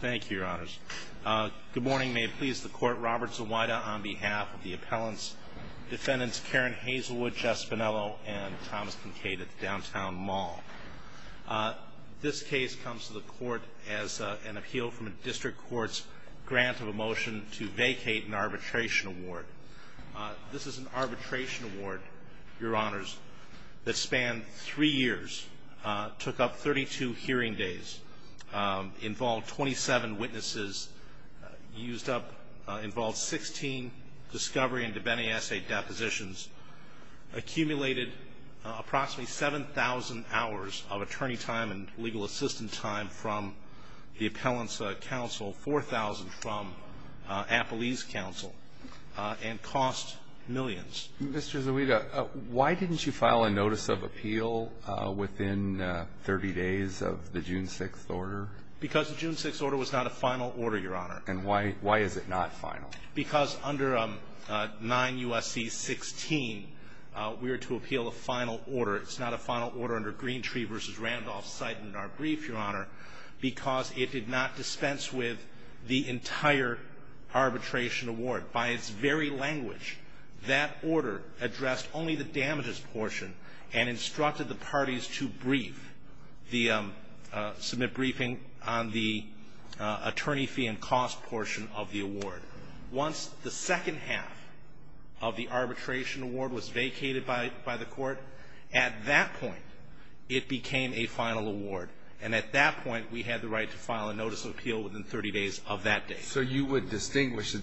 Thank you, Your Honors. Good morning. May it please the Court, Robert Zawada on behalf of the appellants, Defendants Karen Hazelwood, Jeff Spinello, and Thomas Kinkade at the Downtown Mall. This case comes to the Court as an appeal from a District Court's grant of a motion to vacate an arbitration award. This is an arbitration award, Your Honors, that spanned three years, took up 32 hearing days, involved 27 witnesses, used up, involved 16 discovery and debenny essay depositions, accumulated approximately 7,000 hours of attorney time and legal assistant time from the appellants' counsel, 4,000 from appellee's counsel, and cost millions. Mr. Zawada, why didn't you file a notice of appeal within 30 days of the June 6th order? Because the June 6th order was not a final order, Your Honor. And why is it not final? Because under 9 U.S.C. 16, we were to appeal a final order. It's not a final order under Greentree v. Randolph-Syden in our brief, Your Honor, because it did not dispense with the entire arbitration award. By its very language, that order addressed only the damages portion and instructed the parties to brief, submit briefing on the attorney fee and cost portion of the award. Once the second half of the arbitration award was vacated by the Court, at that point, it became a final award. And at that point, we had the right to file a notice of appeal within 30 days of that date. So you would distinguish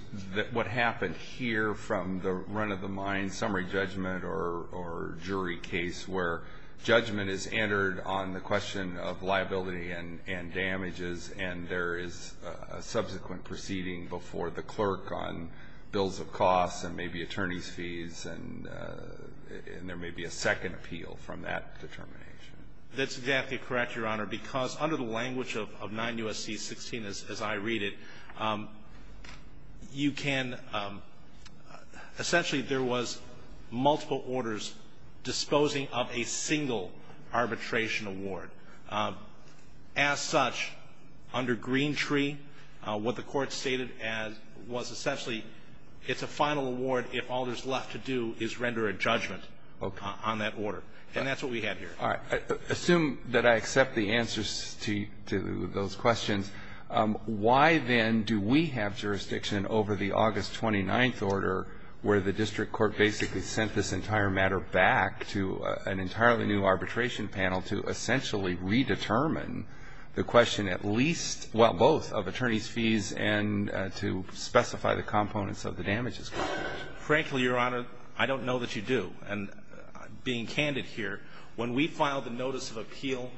what happened here from the run-of-the-mine summary judgment or jury case, where judgment is entered on the question of liability and damages, and there is a subsequent proceeding before the clerk on bills of costs and maybe attorney's fees, and there may be a second appeal from that determination? That's exactly correct, Your Honor, because under the language of 9 U.S.C. 16 as I read it, you can – essentially, there was multiple orders disposing of a single arbitration award. As such, under Greentree, what the Court stated was essentially it's a final award if all there's left to do is render a judgment on that order. Okay. And that's what we have here. All right. Assume that I accept the answers to those questions. Why, then, do we have jurisdiction over the August 29th order where the district court basically sent this entire matter back to an entirely new arbitration panel to essentially redetermine the question at least – well, both of attorney's fees and to specify the components of the damages? Frankly, Your Honor, I don't know that you do. And being candid here, when we filed the notice of appeal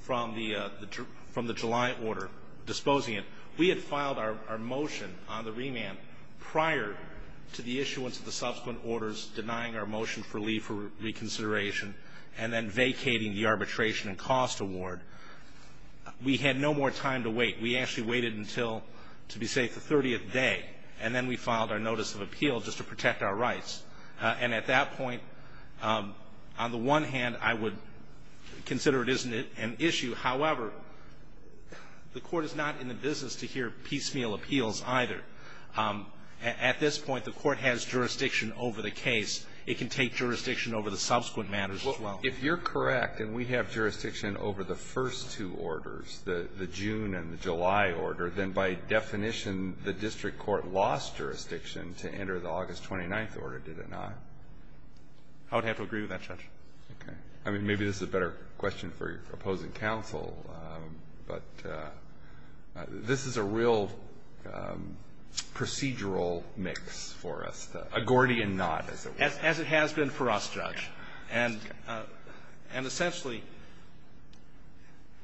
from the July order disposing it, we had filed our motion on the remand prior to the issuance of the subsequent orders denying our motion for leave for reconsideration and then vacating the arbitration and cost award. We had no more time to wait. We actually waited until, to be safe, the 30th day, and then we filed our notice of appeal just to protect our rights. And at that point, on the one hand, I would consider it isn't an issue. However, the Court is not in the business to hear piecemeal appeals either. At this point, the Court has jurisdiction over the case. It can take jurisdiction over the subsequent matters as well. Well, if you're correct and we have jurisdiction over the first two orders, the June and the July order, then by definition, the district court lost jurisdiction to enter the August 29th order, did it not? I would have to agree with that, Judge. Okay. I mean, maybe this is a better question for opposing counsel, but this is a real procedural mix for us, a Gordian knot, as it were. As it has been for us, Judge. Okay. And essentially,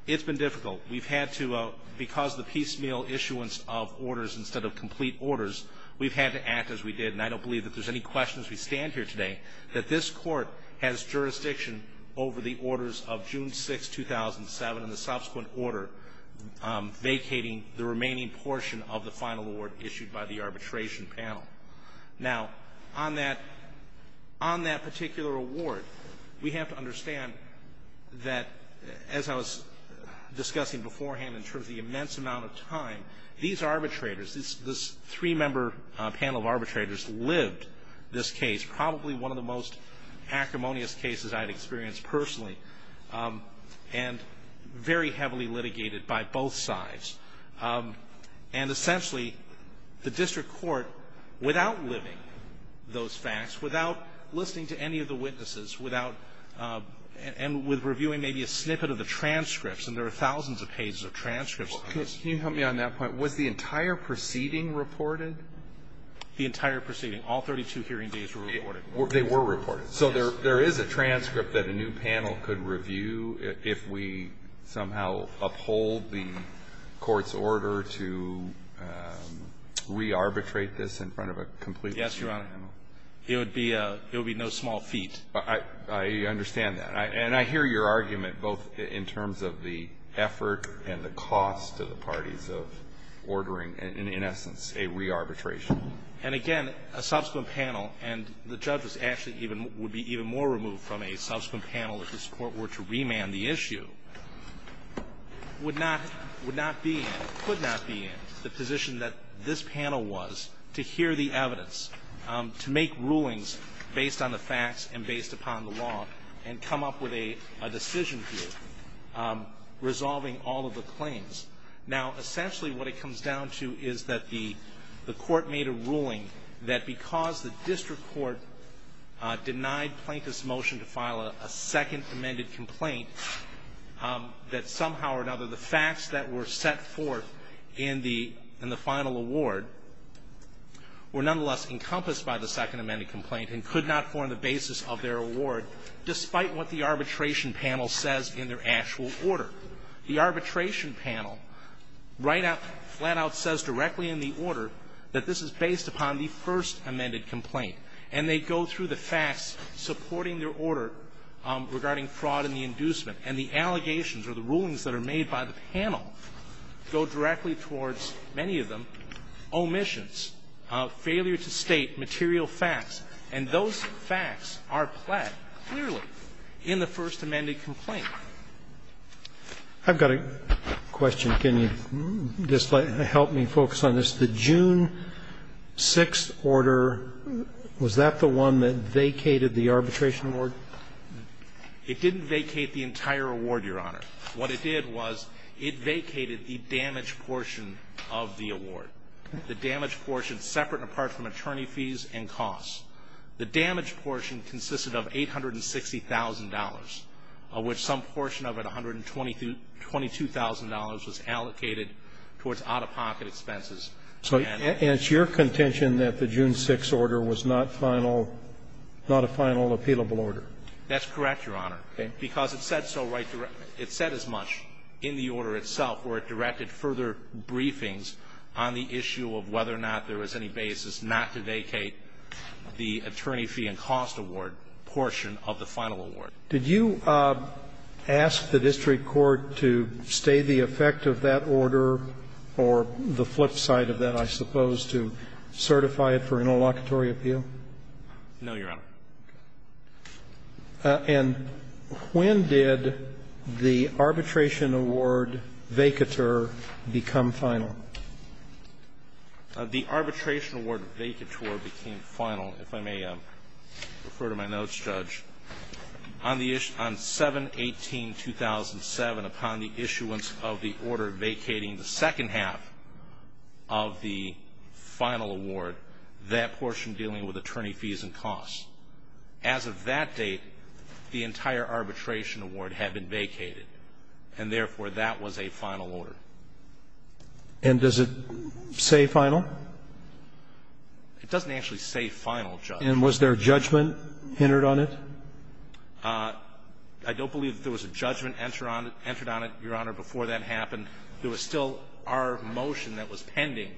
it's been difficult. We've had to, because of the piecemeal issuance of orders instead of complete orders, we've had to act as we did, and I don't believe that there's any question as we stand here today, that this Court has jurisdiction over the orders of June 6th, 2007, and the subsequent order vacating the remaining portion of the final award issued by the arbitration panel. Now, on that particular award, we have to understand that, as I was discussing beforehand in terms of the immense amount of time, these arbitrators, this three-member panel of arbitrators lived this case, probably one of the most acrimonious cases I've experienced personally, and very heavily litigated by both sides. And essentially, the district court, without living those facts, without listening to any of the witnesses, without and with reviewing maybe a snippet of the transcripts, and there are thousands of pages of transcripts. Can you help me on that point? Was the entire proceeding reported? The entire proceeding. All 32 hearing days were reported. They were reported. So there is a transcript that a new panel could review if we somehow uphold the Court's order to re-arbitrate this in front of a completely new panel? Yes, Your Honor. It would be no small feat. I understand that. And I hear your argument both in terms of the effort and the cost to the parties of ordering, in essence, a re-arbitration. And again, a subsequent panel, and the judge would be even more removed from a subsequent panel if this Court were to remand the issue, would not be in, could not be in, the position that this panel was to hear the evidence, to make rulings based on the facts and based upon the law, and come up with a decision here resolving all of the claims. Now, essentially what it comes down to is that the Court made a ruling that because the district court denied plaintiffs' motion to file a second amended complaint, that somehow or another the facts that were set forth in the final award were nonetheless encompassed by the second amended complaint and could not form the basis of their award, despite what the arbitration panel says in their actual order. The arbitration panel right out, flat out says directly in the order that this is based upon the first amended complaint. And they go through the facts supporting their order regarding fraud and the inducement. And the allegations or the rulings that are made by the panel go directly towards, many of them, omissions, failure to state material facts. And those facts are pled clearly in the first amended complaint. I've got a question. Can you just help me focus on this? The June 6th order, was that the one that vacated the arbitration award? It didn't vacate the entire award, Your Honor. What it did was it vacated the damaged portion of the award, the damaged portion separate and apart from attorney fees and costs. The damaged portion consisted of $860,000, of which some portion of it, $122,000, was allocated towards out-of-pocket expenses. And it's your contention that the June 6th order was not final, not a final appealable order? That's correct, Your Honor. Okay. Because it said so right, it said as much in the order itself where it directed further briefings on the issue of whether or not there was any basis not to vacate the attorney fee and cost award portion of the final award. Did you ask the district court to stay the effect of that order or the flip side of that, I suppose, to certify it for interlocutory appeal? No, Your Honor. And when did the arbitration award vacatur become final? The arbitration award vacatur became final, if I may refer to my notes, Judge. On 7-18-2007, upon the issuance of the order vacating the second half of the final award, that portion dealing with attorney fees and costs. As of that date, the entire arbitration award had been vacated, and therefore that was a final order. And does it say final? It doesn't actually say final, Judge. And was there judgment entered on it? I don't believe there was a judgment entered on it, Your Honor, before that happened. There was still our motion that was pending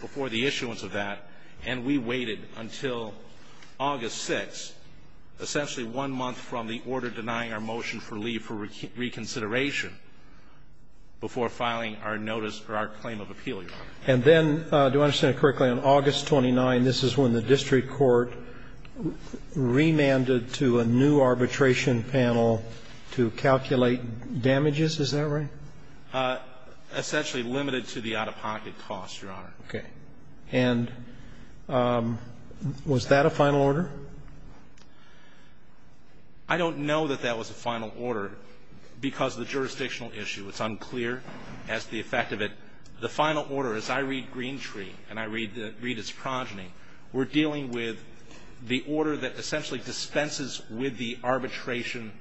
before the issuance of that, and we waited until August 6th, essentially one month from the order denying our motion for leave for reconsideration, before filing our notice or our claim of appeal, Your Honor. And then, do I understand it correctly, on August 29th, this is when the district court remanded to a new arbitration panel to calculate damages? Is that right? Essentially limited to the out-of-pocket costs, Your Honor. Okay. And was that a final order? I don't know that that was a final order because of the jurisdictional issue. It's unclear as to the effect of it. The final order, as I read Green Tree and I read its progeny, we're dealing with the order that essentially dispenses with the arbitration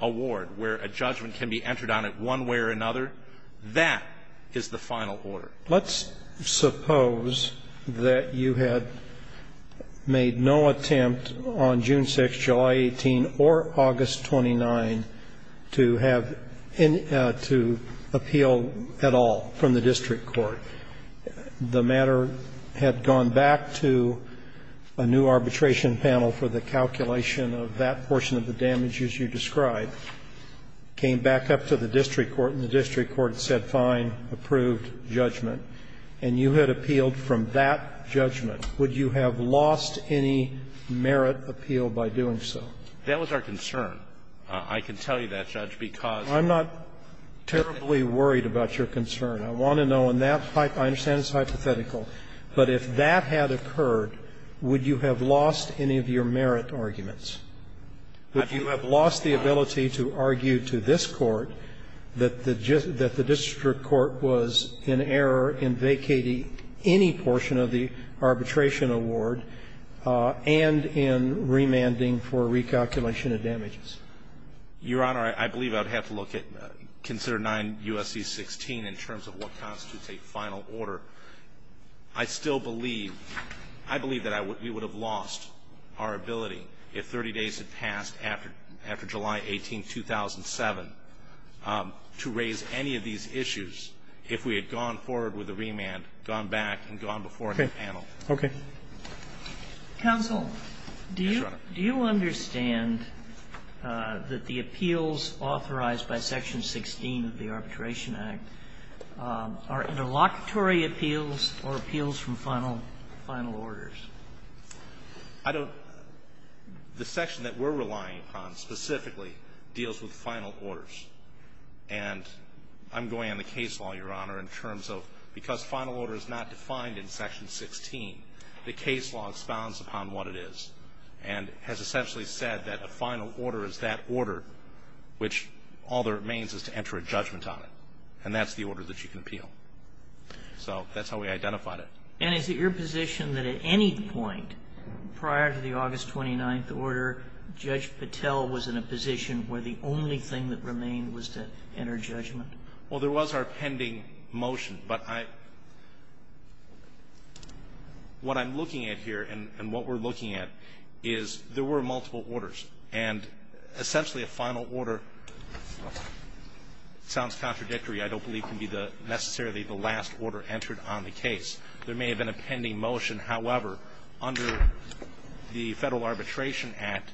award, where a judgment can be entered on it one way or another. That is the final order. Let's suppose that you had made no attempt on June 6th, July 18th, or August 29th to appeal at all from the district court. The matter had gone back to a new arbitration panel for the calculation of that portion of the damages you described, came back up to the district court, and the district court said fine, approved, judgment. And you had appealed from that judgment. Would you have lost any merit appeal by doing so? That was our concern. I can tell you that, Judge, because of the fact that the district court was in error of damages. I'm not terribly worried about your concern. I want to know on that. I understand it's hypothetical. But if that had occurred, would you have lost any of your merit arguments? If you have lost the ability to argue to this Court that the district court was in error in vacating any portion of the arbitration award and in remanding for recalculation of damages? Your Honor, I believe I would have to look at, consider 9 U.S.C. 16 in terms of what constitutes a final order. I still believe, I believe that we would have lost our ability if 30 days had passed after July 18, 2007, to raise any of these issues if we had gone forward with the remand, gone back, and gone before the panel. Okay. Counsel, do you understand that the appeals authorized by Section 16 of the Arbitration Act are interlocutory appeals or appeals from final orders? I don't. The section that we're relying upon specifically deals with final orders. And I'm going on the case law, Your Honor, in terms of because final order is not defined in Section 16, the case law expounds upon what it is and has essentially said that final order is that order which all that remains is to enter a judgment on it. And that's the order that you can appeal. So that's how we identified it. And is it your position that at any point prior to the August 29th order, Judge Patel was in a position where the only thing that remained was to enter judgment? Well, there was our pending motion, but what I'm looking at here and what we're essentially a final order. It sounds contradictory. I don't believe it can be necessarily the last order entered on the case. There may have been a pending motion. However, under the Federal Arbitration Act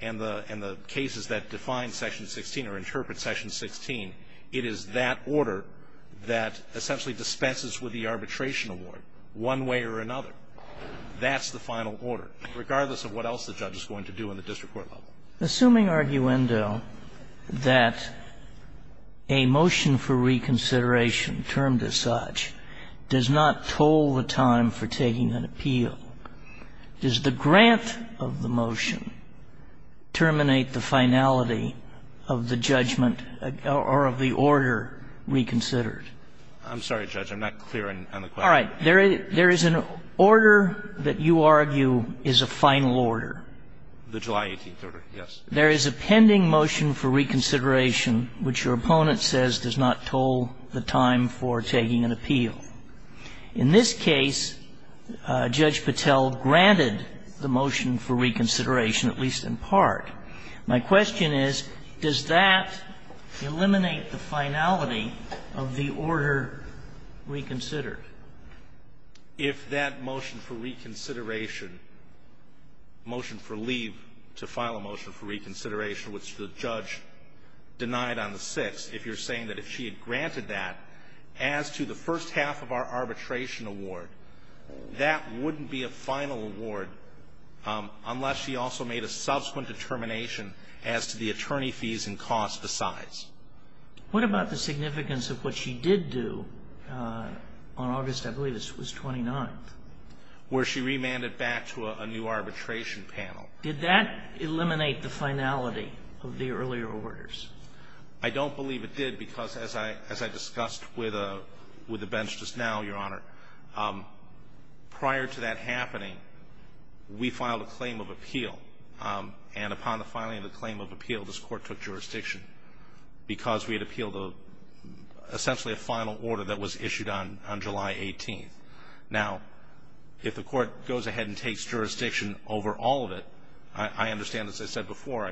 and the cases that define Section 16 or interpret Section 16, it is that order that essentially dispenses with the arbitration award one way or another. That's the final order. Regardless of what else the judge is going to do in the district court level. Assuming, arguendo, that a motion for reconsideration termed as such does not toll the time for taking an appeal, does the grant of the motion terminate the finality of the judgment or of the order reconsidered? I'm sorry, Judge. I'm not clear on the question. All right. There is an order that you argue is a final order. The July 18th order, yes. There is a pending motion for reconsideration which your opponent says does not toll the time for taking an appeal. In this case, Judge Patel granted the motion for reconsideration, at least in part. My question is, does that eliminate the finality of the order reconsidered? If that motion for reconsideration, motion for leave to file a motion for reconsideration which the judge denied on the 6th, if you're saying that if she had granted that as to the first half of our arbitration award, that wouldn't be a final award unless she also made a subsequent determination as to the attorney fees and costs besides. What about the significance of what she did do on August, I believe it was 29th? Where she remanded back to a new arbitration panel. Did that eliminate the finality of the earlier orders? I don't believe it did because as I discussed with the bench just now, Your Honor, prior to that happening, we filed a claim of appeal. And upon the filing of the claim of appeal, this Court took jurisdiction because we had appealed essentially a final order that was issued on July 18th. Now, if the Court goes ahead and takes jurisdiction over all of it, I understand, as I said before,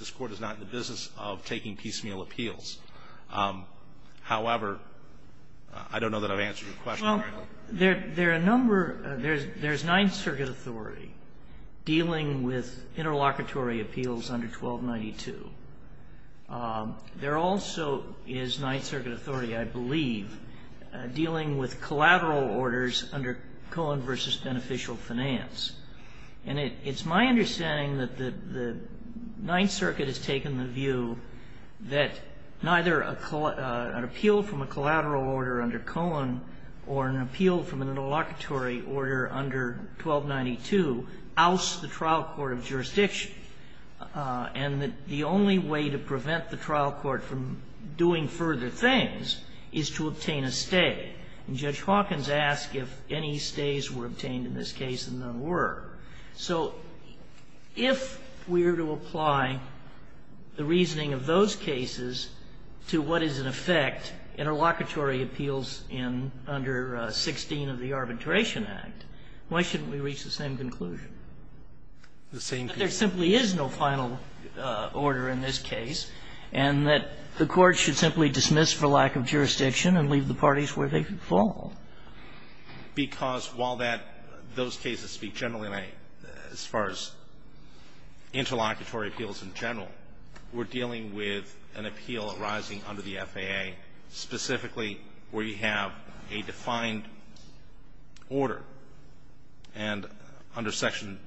this Court is not in the business of taking piecemeal appeals. However, I don't know that I've answered your question. Well, there are a number. There's Ninth Circuit authority dealing with interlocutory appeals under 1292. There also is Ninth Circuit authority, I believe, dealing with collateral orders under Cohen v. Beneficial Finance. And it's my understanding that the Ninth Circuit has taken the view that neither an appeal from a collateral order under Cohen or an appeal from an interlocutory order under 1292 ousts the trial court of jurisdiction, and that the only way to prevent the trial court from doing further things is to obtain a stay. And Judge Hawkins asked if any stays were obtained in this case, and none were. So if we were to apply the reasoning of those cases to what is in effect interlocutory appeals in under 16 of the Arbitration Act, why shouldn't we reach the same conclusion? There simply is no final order in this case, and that the Court should simply dismiss for lack of jurisdiction and leave the parties where they fall. Because while that those cases speak generally, as far as interlocutory appeals in general, we're dealing with an appeal arising under the FAA specifically where you have a defined order, and under section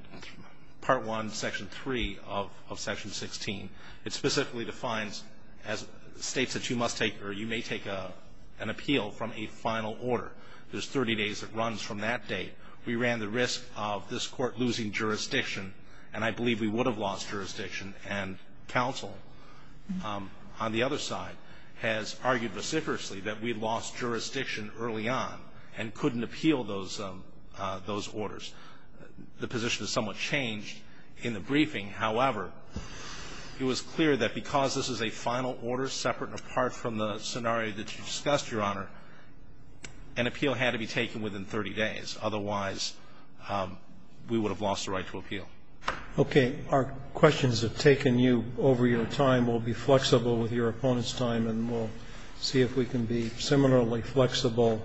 part 1, section 3 of section 16, it specifically defines as states that you must take or you may take an appeal from a final order. There's 30 days that runs from that date. We ran the risk of this court losing jurisdiction, and I believe we would have lost jurisdiction, and counsel on the other side has argued vociferously that we lost jurisdiction early on and couldn't appeal those orders. The position is somewhat changed in the briefing. However, it was clear that because this is a final order separate and apart from the FAA, an appeal had to be taken within 30 days. Otherwise, we would have lost the right to appeal. Roberts. Okay. Our questions have taken you over your time. We'll be flexible with your opponent's time, and we'll see if we can be similarly flexible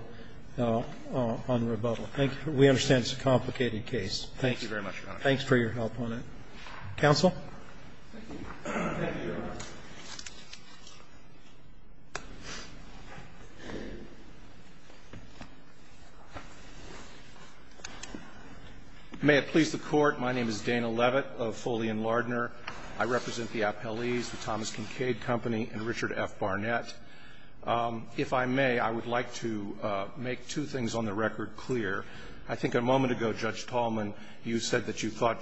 on rebuttal. Thank you. We understand it's a complicated case. Thank you very much, Your Honor. Thanks for your help on it. Counsel. Thank you. Thank you, Your Honor. May it please the Court, my name is Dana Levitt of Foley and Lardner. I represent the appellees, the Thomas Kincaid Company and Richard F. Barnett. If I may, I would like to make two things on the record clear. I think a moment ago, Judge Tallman, you said that you thought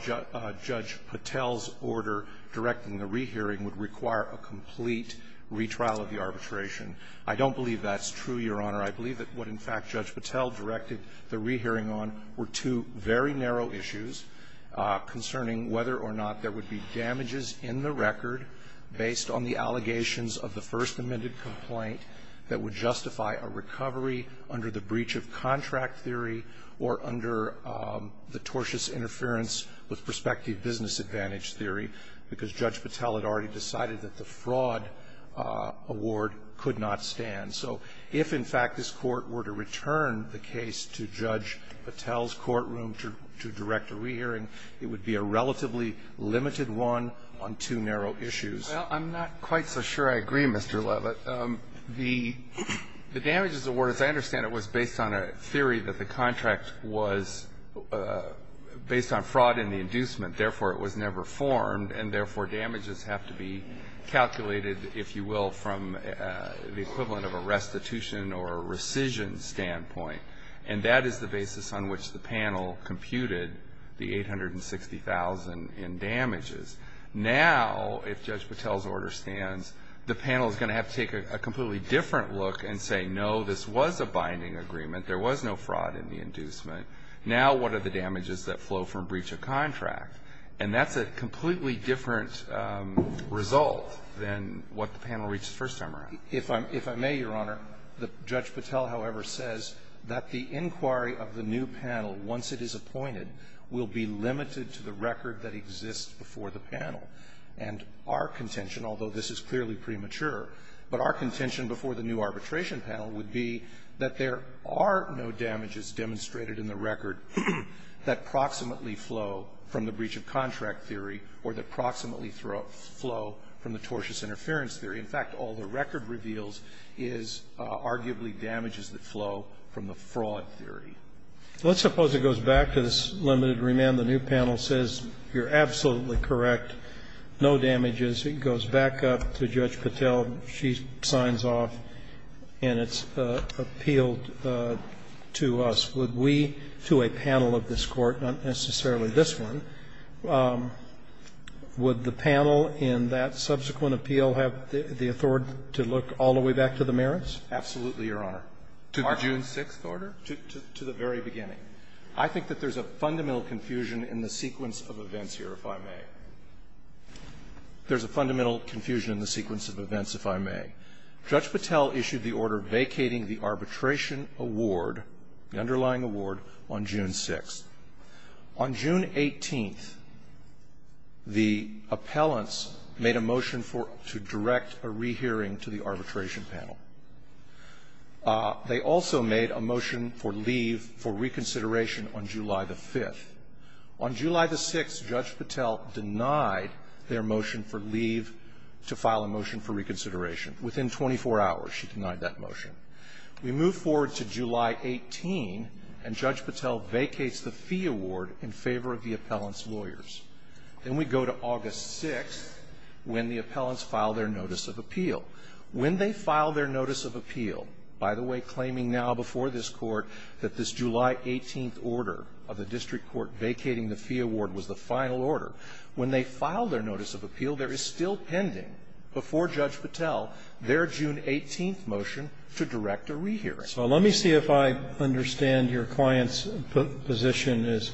Judge Patel's order directing the rehearing would require a complete retrial of the arbitration. I don't believe that's true, Your Honor. I believe that what, in fact, Judge Patel directed the rehearing on were two very narrow issues concerning whether or not there would be damages in the record based on the allegations of the First Amendment complaint that would justify a recovery under the breach of contract theory or under the tortious interference with prospective business advantage theory, because Judge Patel had already decided that the fraud award could not stand. So if, in fact, this Court were to return the case to Judge Patel's courtroom to direct a rehearing, it would be a relatively limited one on two narrow issues. Well, I'm not quite so sure I agree, Mr. Levitt. The damages award, as I understand it, was based on a theory that the contract was based on fraud in the inducement, therefore, it was never formed, and therefore, damages have to be calculated, if you will, from the equivalent of a restitution or a rescission standpoint. And that is the basis on which the panel computed the 860,000 in damages. Now, if Judge Patel's order stands, the panel is going to have to take a completely different look and say, no, this was a binding agreement, there was no fraud in the inducement. Now, what are the damages that flow from breach of contract? And that's a completely different result than what the panel reached the first time around. If I may, Your Honor, Judge Patel, however, says that the inquiry of the new panel, once it is appointed, will be limited to the record that exists before the panel. And our contention, although this is clearly premature, but our contention before the new arbitration panel would be that there are no damages demonstrated in the record that proximately flow from the breach of contract theory or that proximately flow from the tortious interference theory. In fact, all the record reveals is arguably damages that flow from the fraud theory. Let's suppose it goes back to this limited remand. The new panel says, you're absolutely correct, no damages. It goes back up to Judge Patel. She signs off and it's appealed to us. Would we, to a panel of this Court, not necessarily this one, would the panel in that subsequent appeal have the authority to look all the way back to the merits? Absolutely, Your Honor. To the June 6th order? To the very beginning. I think that there's a fundamental confusion in the sequence of events here, if I may. There's a fundamental confusion in the sequence of events, if I may. Judge Patel issued the order vacating the arbitration award, the underlying award, on June 6th. On June 18th, the appellants made a motion for to direct a rehearing to the arbitration panel. They also made a motion for leave for reconsideration on July 5th. On July 6th, Judge Patel denied their motion for leave to file a motion for reconsideration. Within 24 hours, she denied that motion. We move forward to July 18, and Judge Patel vacates the fee award in favor of the appellant's lawyers. Then we go to August 6th, when the appellants file their notice of appeal. When they file their notice of appeal, by the way, claiming now before this Court that this July 18th order of the district court vacating the fee award was the final order, when they file their notice of appeal, there is still pending before Judge Patel their June 18th motion to direct a rehearing. So let me see if I understand your client's position as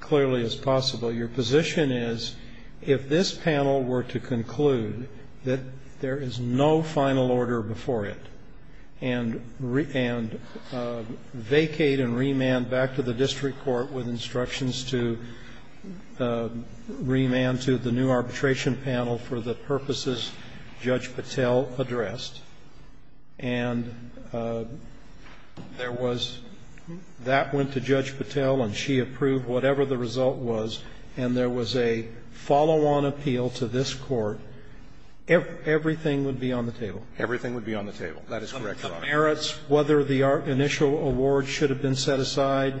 clearly as possible. Your position is, if this panel were to conclude that there is no final order before it and vacate and remand back to the district court with instructions to remand to the new arbitration panel for the purposes Judge Patel addressed, and there was a follow-on appeal to this Court, everything would be on the table? Everything would be on the table. That is correct, Your Honor. The merits, whether the initial award should have been set aside,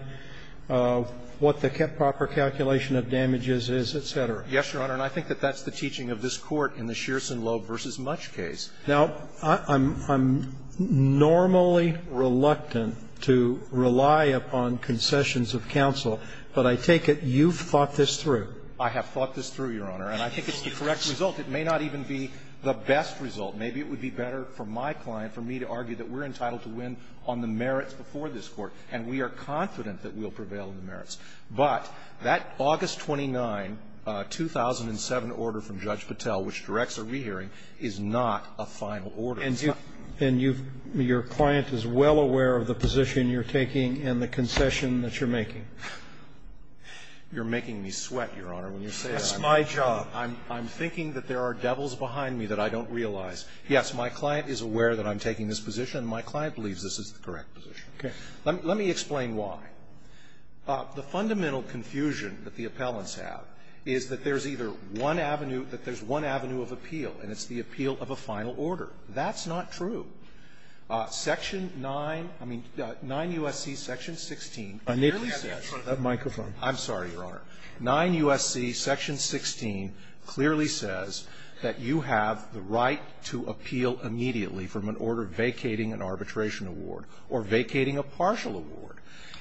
what the proper calculation of damages is, et cetera? Yes, Your Honor, and I think that that's the teaching of this Court in the Shearson Loeb v. Mutch case. Now, I'm normally reluctant to rely upon concessions of counsel, but I take it you've thought this through. I have thought this through, Your Honor, and I think it's the correct result. It may not even be the best result. Maybe it would be better for my client, for me, to argue that we're entitled to win on the merits before this Court, and we are confident that we'll prevail on the merits. But that August 29, 2007 order from Judge Patel, which directs a rehearing, is not a final order. And you've – your client is well aware of the position you're taking and the concession that you're making? You're making me sweat, Your Honor, when you say that. That's my job. I'm thinking that there are devils behind me that I don't realize. Yes, my client is aware that I'm taking this position, and my client believes this is the correct position. Okay. Let me explain why. The fundamental confusion that the appellants have is that there's either one avenue of appeal, and it's the appeal of a final order. That's not true. Section 9, I mean, 9 U.S.C. Section 16 clearly says that you have the right to appeal immediately from an order vacating an arbitration award or vacating a partial award.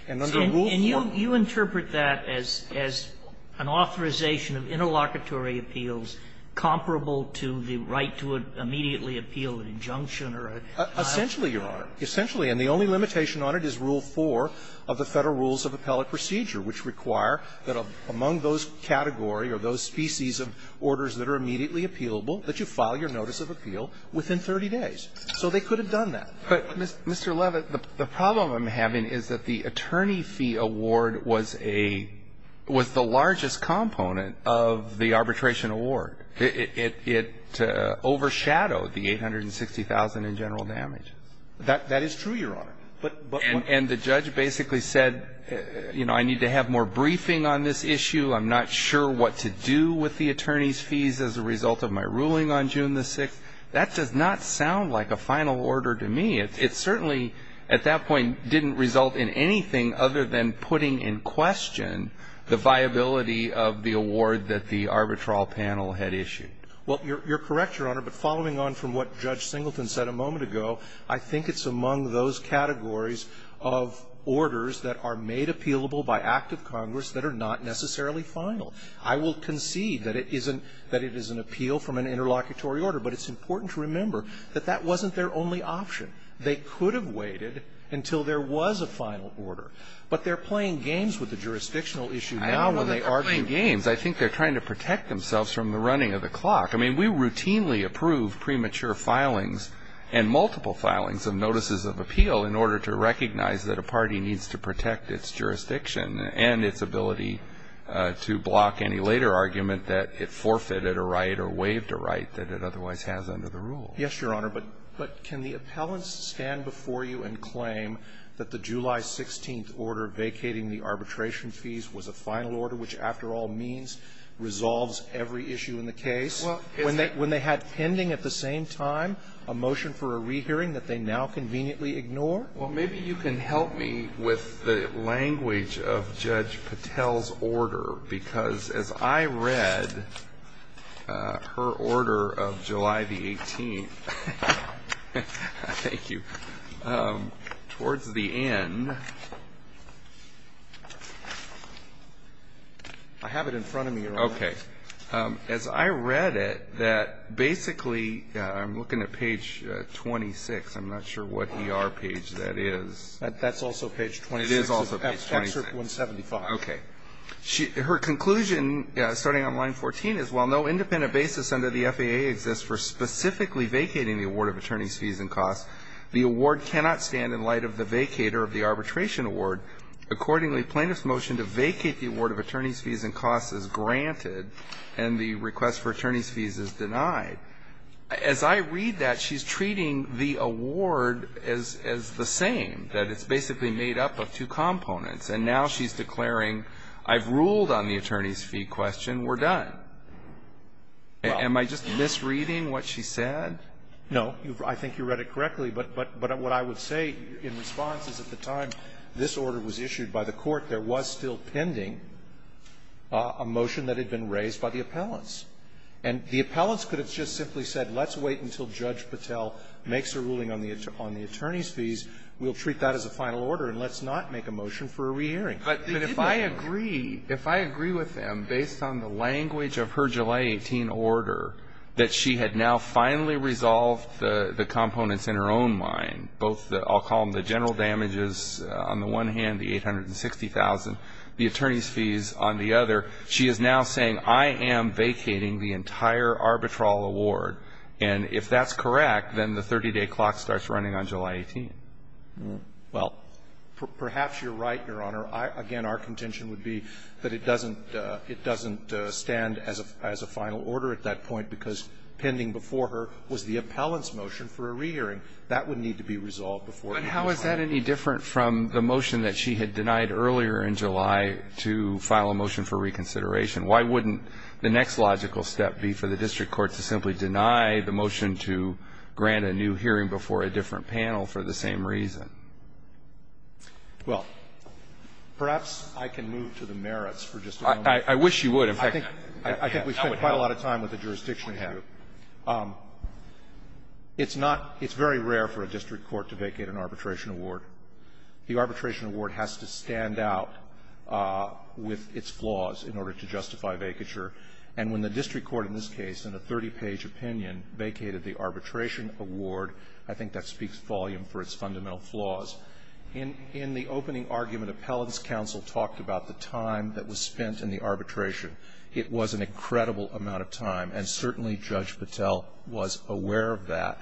And under Rule 4, you have the right to appeal immediately from an order vacating an arbitration award or vacating a partial award, and you have the right to appeal award. So is the limitation of interlocutory appeals comparable to the right to immediately appeal an injunction or a final order? Essentially, Your Honor. Essentially. And the only limitation on it is Rule 4 of the Federal Rules of Appellate Procedure, which require that among those category or those species of orders that are immediately appealable, that you file your notice of appeal within 30 days. So they could have done that. But, Mr. Levit, the problem I'm having is that the attorney fee award was a – was the largest component of the arbitration award. It overshadowed the 860,000 in general damage. That is true, Your Honor. And the judge basically said, you know, I need to have more briefing on this issue. I'm not sure what to do with the attorney's fees as a result of my ruling on June 6th. That does not sound like a final order to me. It certainly, at that point, didn't result in anything other than putting in question the viability of the award that the arbitral panel had issued. Well, you're correct, Your Honor. But following on from what Judge Singleton said a moment ago, I think it's among those categories of orders that are made appealable by act of Congress that are not necessarily final. I will concede that it isn't – that it is an appeal from an interlocutory order. But it's important to remember that that wasn't their only option. They could have waited until there was a final order. But they're playing games with the jurisdictional issue now when they are to… I don't know that they're playing games. I think they're trying to protect themselves from the running of the clock. I mean, we routinely approve premature filings and multiple filings of notices of appeal in order to recognize that a party needs to protect its jurisdiction and its ability to block any later argument that it forfeited a right or waived a right that it otherwise has under the rule. Yes, Your Honor. But can the appellants stand before you and claim that the July 16th order vacating the arbitration fees was a final order which, after all means, resolves every issue in the case? Well, isn't it… When they had pending at the same time a motion for a rehearing that they now conveniently ignore? Well, maybe you can help me with the language of Judge Patel's order because as I read her order of July the 18th, towards the end… I have it in front of me, Your Honor. Okay. As I read it, that basically, I'm looking at page 26. I'm not sure what ER page that is. That's also page 26. It is also page 26. It's at section 175. Okay. Her conclusion, starting on line 14, is while no independent basis under the FAA exists for specifically vacating the award of attorneys' fees and costs, the award cannot stand in light of the vacator of the arbitration award. Accordingly, plaintiff's motion to vacate the award of attorneys' fees and costs is granted and the request for attorneys' fees is denied. As I read that, she's treating the award as the same, that it's basically made up of two components. And now she's declaring, I've ruled on the attorneys' fee question. We're done. Am I just misreading what she said? No. I think you read it correctly. But what I would say in response is at the time this order was issued by the court, there was still pending a motion that had been raised by the appellants. And the appellants could have just simply said, let's wait until Judge Patel makes a ruling on the attorneys' fees. We'll treat that as a final order, and let's not make a motion for a re-hearing. But if I agree with them, based on the language of her July 18 order, that she had now finally resolved the components in her own mind, both the, I'll call them the general damages on the one hand, the $860,000, the attorneys' fees on the other. She is now saying, I am vacating the entire arbitral award. And if that's correct, then the 30-day clock starts running on July 18. Well, perhaps you're right, Your Honor. Again, our contention would be that it doesn't stand as a final order at that point, because pending before her was the appellant's motion for a re-hearing. But how is that any different from the motion that she had denied earlier in July to file a motion for reconsideration? Why wouldn't the next logical step be for the district court to simply deny the motion to grant a new hearing before a different panel for the same reason? Well, perhaps I can move to the merits for just a moment. I wish you would. I think we've spent quite a lot of time with the jurisdiction issue. It's not – it's very rare for a district court to vacate an arbitration award. The arbitration award has to stand out with its flaws in order to justify vacature. And when the district court in this case, in a 30-page opinion, vacated the arbitration award, I think that speaks volume for its fundamental flaws. In the opening argument, appellant's counsel talked about the time that was spent in the arbitration. It was an incredible amount of time, and certainly Judge Patel was aware of that.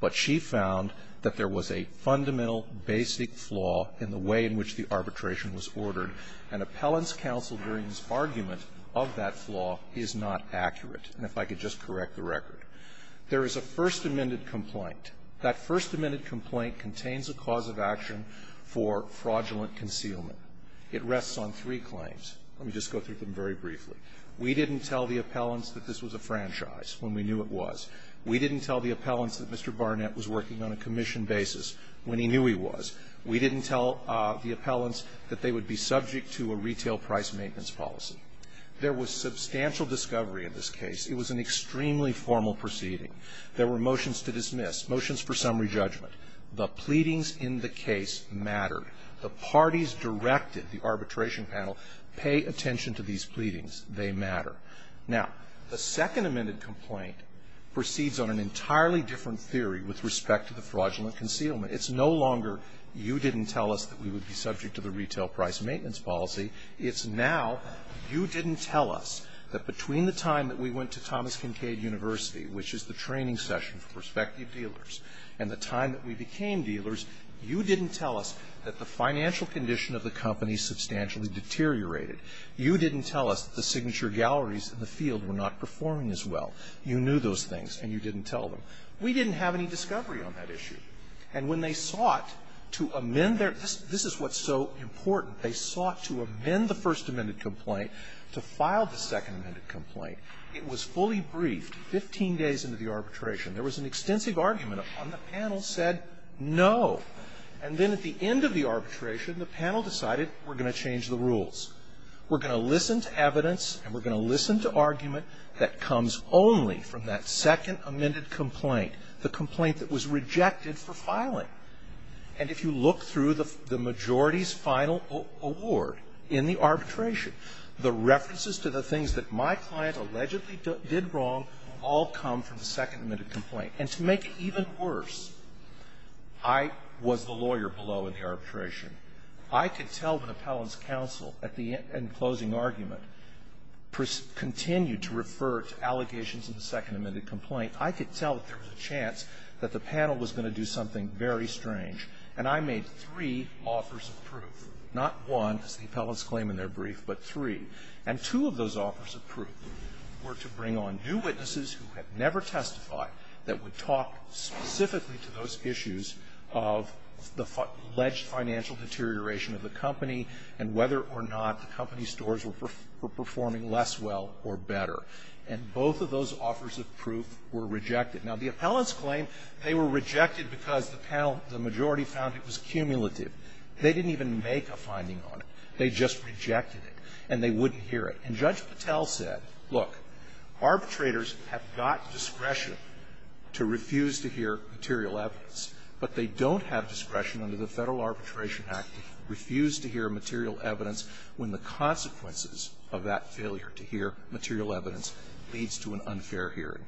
But she found that there was a fundamental basic flaw in the way in which the arbitration was ordered. And appellant's counsel during his argument of that flaw is not accurate. And if I could just correct the record. There is a first amended complaint. That first amended complaint contains a cause of action for fraudulent concealment. It rests on three claims. Let me just go through them very briefly. We didn't tell the appellants that this was a franchise when we knew it was. We didn't tell the appellants that Mr. Barnett was working on a commission basis when he knew he was. We didn't tell the appellants that they would be subject to a retail price maintenance policy. There was substantial discovery in this case. It was an extremely formal proceeding. There were motions to dismiss, motions for summary judgment. The pleadings in the case mattered. The parties directed the arbitration panel pay attention to these pleadings. They matter. Now, the second amended complaint proceeds on an entirely different theory with respect to the fraudulent concealment. It's no longer you didn't tell us that we would be subject to the retail price maintenance policy. It's now you didn't tell us that between the time that we went to Thomas Kincaid University, which is the training session for prospective dealers, and the time that we became dealers, you didn't tell us that the financial condition of the company substantially deteriorated. You didn't tell us that the signature galleries in the field were not performing as well. You knew those things, and you didn't tell them. We didn't have any discovery on that issue. And when they sought to amend their this is what's so important. They sought to amend the first amended complaint to file the second amended complaint. It was fully briefed 15 days into the arbitration. There was an extensive argument on the panel said no. And then at the end of the arbitration, the panel decided we're going to change the rules. We're going to listen to evidence, and we're going to listen to argument that comes only from that second amended complaint, the complaint that was rejected for filing. And if you look through the majority's final award in the arbitration, the references to the things that my client allegedly did wrong all come from the second amended complaint. And to make it even worse, I was the lawyer below in the arbitration. I could tell when appellant's counsel at the end, in closing argument, continued to refer to allegations in the second amended complaint, I could tell that there was a chance that the panel was going to do something very strange. And I made three offers of proof, not one, as the appellants claim in their brief, but three. And two of those offers of proof were to bring on new witnesses who had never testified that would talk specifically to those issues of the alleged financial deterioration of the company and whether or not the company's stores were performing less well or better. And both of those offers of proof were rejected. Now, the appellants claim they were rejected because the panel, the majority found it was cumulative. They didn't even make a finding on it. They just rejected it. And they wouldn't hear it. And Judge Patel said, look, arbitrators have got discretion to refuse to hear material evidence, but they don't have discretion under the Federal Arbitration Act to refuse to hear material evidence when the consequences of that failure to hear material evidence leads to an unfair hearing.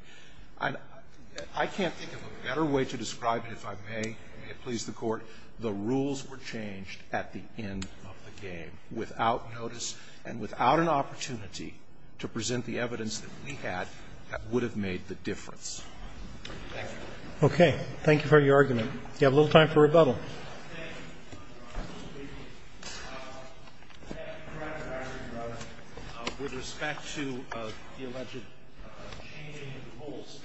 I can't think of a better way to describe it, if I may, and may it please the Court. The rules were changed at the end of the game without notice and without an opportunity to present the evidence that we had that would have made the difference. Thank you. Roberts. Okay. Thank you for your argument. You have a little time for rebuttal. Thank you, Mr. Chief Justice. With respect to the alleged changing of the rules,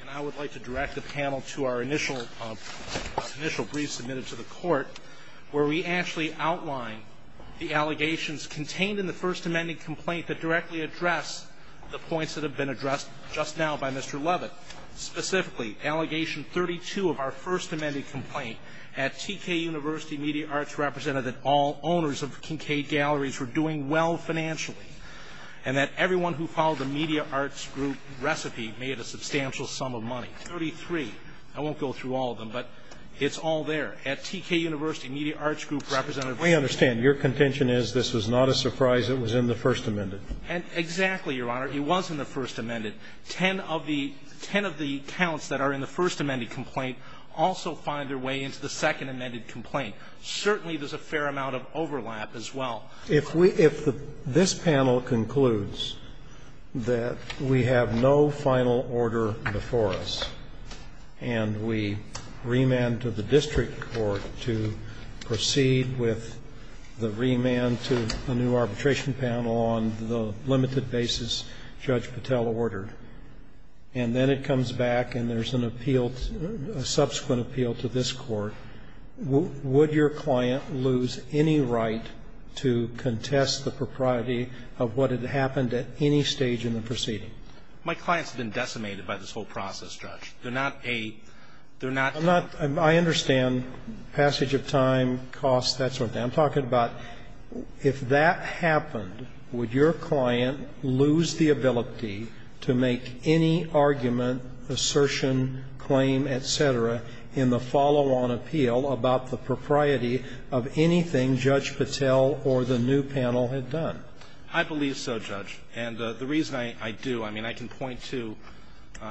and I would like to direct the question to the Court, where we actually outline the allegations contained in the First Amendment complaint that directly address the points that have been addressed just now by Mr. Leavitt. Specifically, Allegation 32 of our First Amendment complaint at T.K. University Media Arts represented that all owners of Kincaid Galleries were doing well financially and that everyone who followed the Media Arts Group recipe made a substantial sum of money. 33. I won't go through all of them, but it's all there. At T.K. University Media Arts Group represented. We understand. Your contention is this was not a surprise. It was in the First Amendment. Exactly, Your Honor. It was in the First Amendment. Ten of the counts that are in the First Amendment complaint also find their way into the Second Amendment complaint. Certainly there's a fair amount of overlap as well. If this panel concludes that we have no final order before us and we remand to the district court to proceed with the remand to a new arbitration panel on the limited basis Judge Patel ordered, and then it comes back and there's an appeal, a subsequent appeal to this court, would your client lose any right to contest the propriety of what had happened at any stage in the proceeding? My client has been decimated by this whole process, Judge. They're not a ‑‑ I'm not ‑‑ I understand passage of time, costs, that sort of thing. I'm talking about if that happened, would your client lose the ability to make any argument, assertion, claim, et cetera, in the follow-on appeal about the propriety of anything Judge Patel or the new panel had done? I believe so, Judge. And the reason I do, I mean, I can point to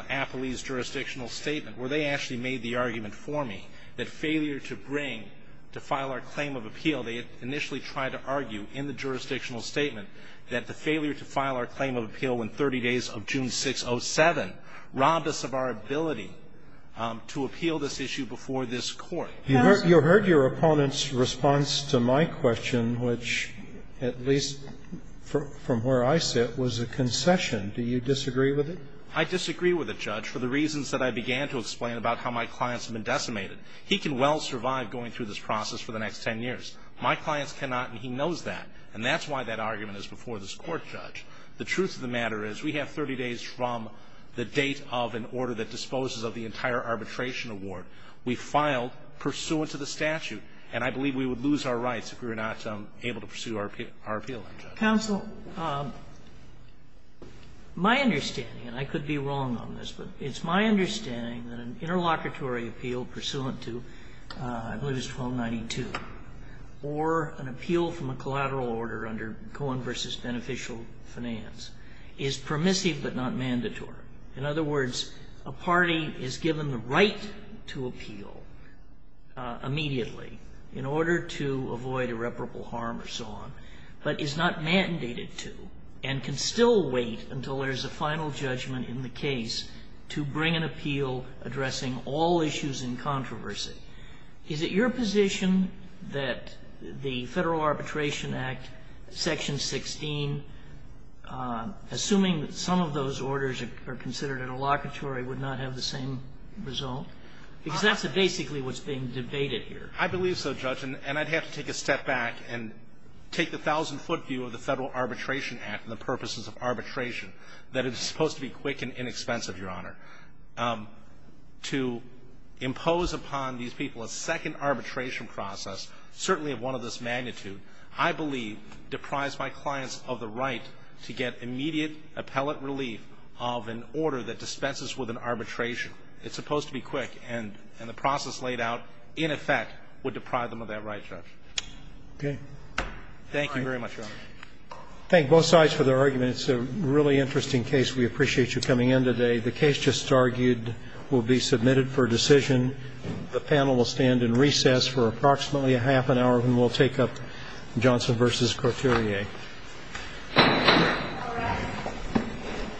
Appley's jurisdictional statement where they actually made the argument for me that failure to bring, to file our claim of appeal, they initially tried to argue in the jurisdictional statement that the failure to file our claim of appeal in 30 days of June 6, 07, robbed us of our ability to appeal this issue before this court. You heard your opponent's response to my question, which at least from where I sit was a concession. Do you disagree with it? I disagree with it, Judge, for the reasons that I began to explain about how my clients have been decimated. He can well survive going through this process for the next 10 years. My clients cannot, and he knows that. And that's why that argument is before this court, Judge. The truth of the matter is we have 30 days from the date of an order that disposes of the entire arbitration award. We filed pursuant to the statute. And I believe we would lose our rights if we were not able to pursue our appeal in, Judge. Counsel, my understanding, and I could be wrong on this, but it's my understanding that an interlocutory appeal pursuant to, I believe it's 1292, or an appeal from a collateral order under Cohen v. Beneficial Finance is permissive but not mandatory. In other words, a party is given the right to appeal immediately in order to avoid irreparable harm or so on, but is not mandated to and can still wait until there's a final judgment in the case to bring an appeal addressing all issues in controversy. Is it your position that the Federal Arbitration Act, Section 16, assuming that some of those orders are considered interlocutory, would not have the same result? Because that's basically what's being debated here. I believe so, Judge, and I'd have to take a step back and take the thousand-foot view of the Federal Arbitration Act and the purposes of arbitration, that it's supposed to be quick and inexpensive, Your Honor. To impose upon these people a second arbitration process, certainly of one of this magnitude, I believe deprives my clients of the right to get immediate appellate relief of an order that dispenses with an arbitration. It's supposed to be quick, and the process laid out, in effect, would deprive them of that right, Judge. Okay. Thank you very much, Your Honor. Thank both sides for their arguments. It's a really interesting case. We appreciate you coming in today. The case just argued will be submitted for decision. The panel will stand in recess for approximately a half an hour, and we'll take up Johnson v. Coturier. All rise.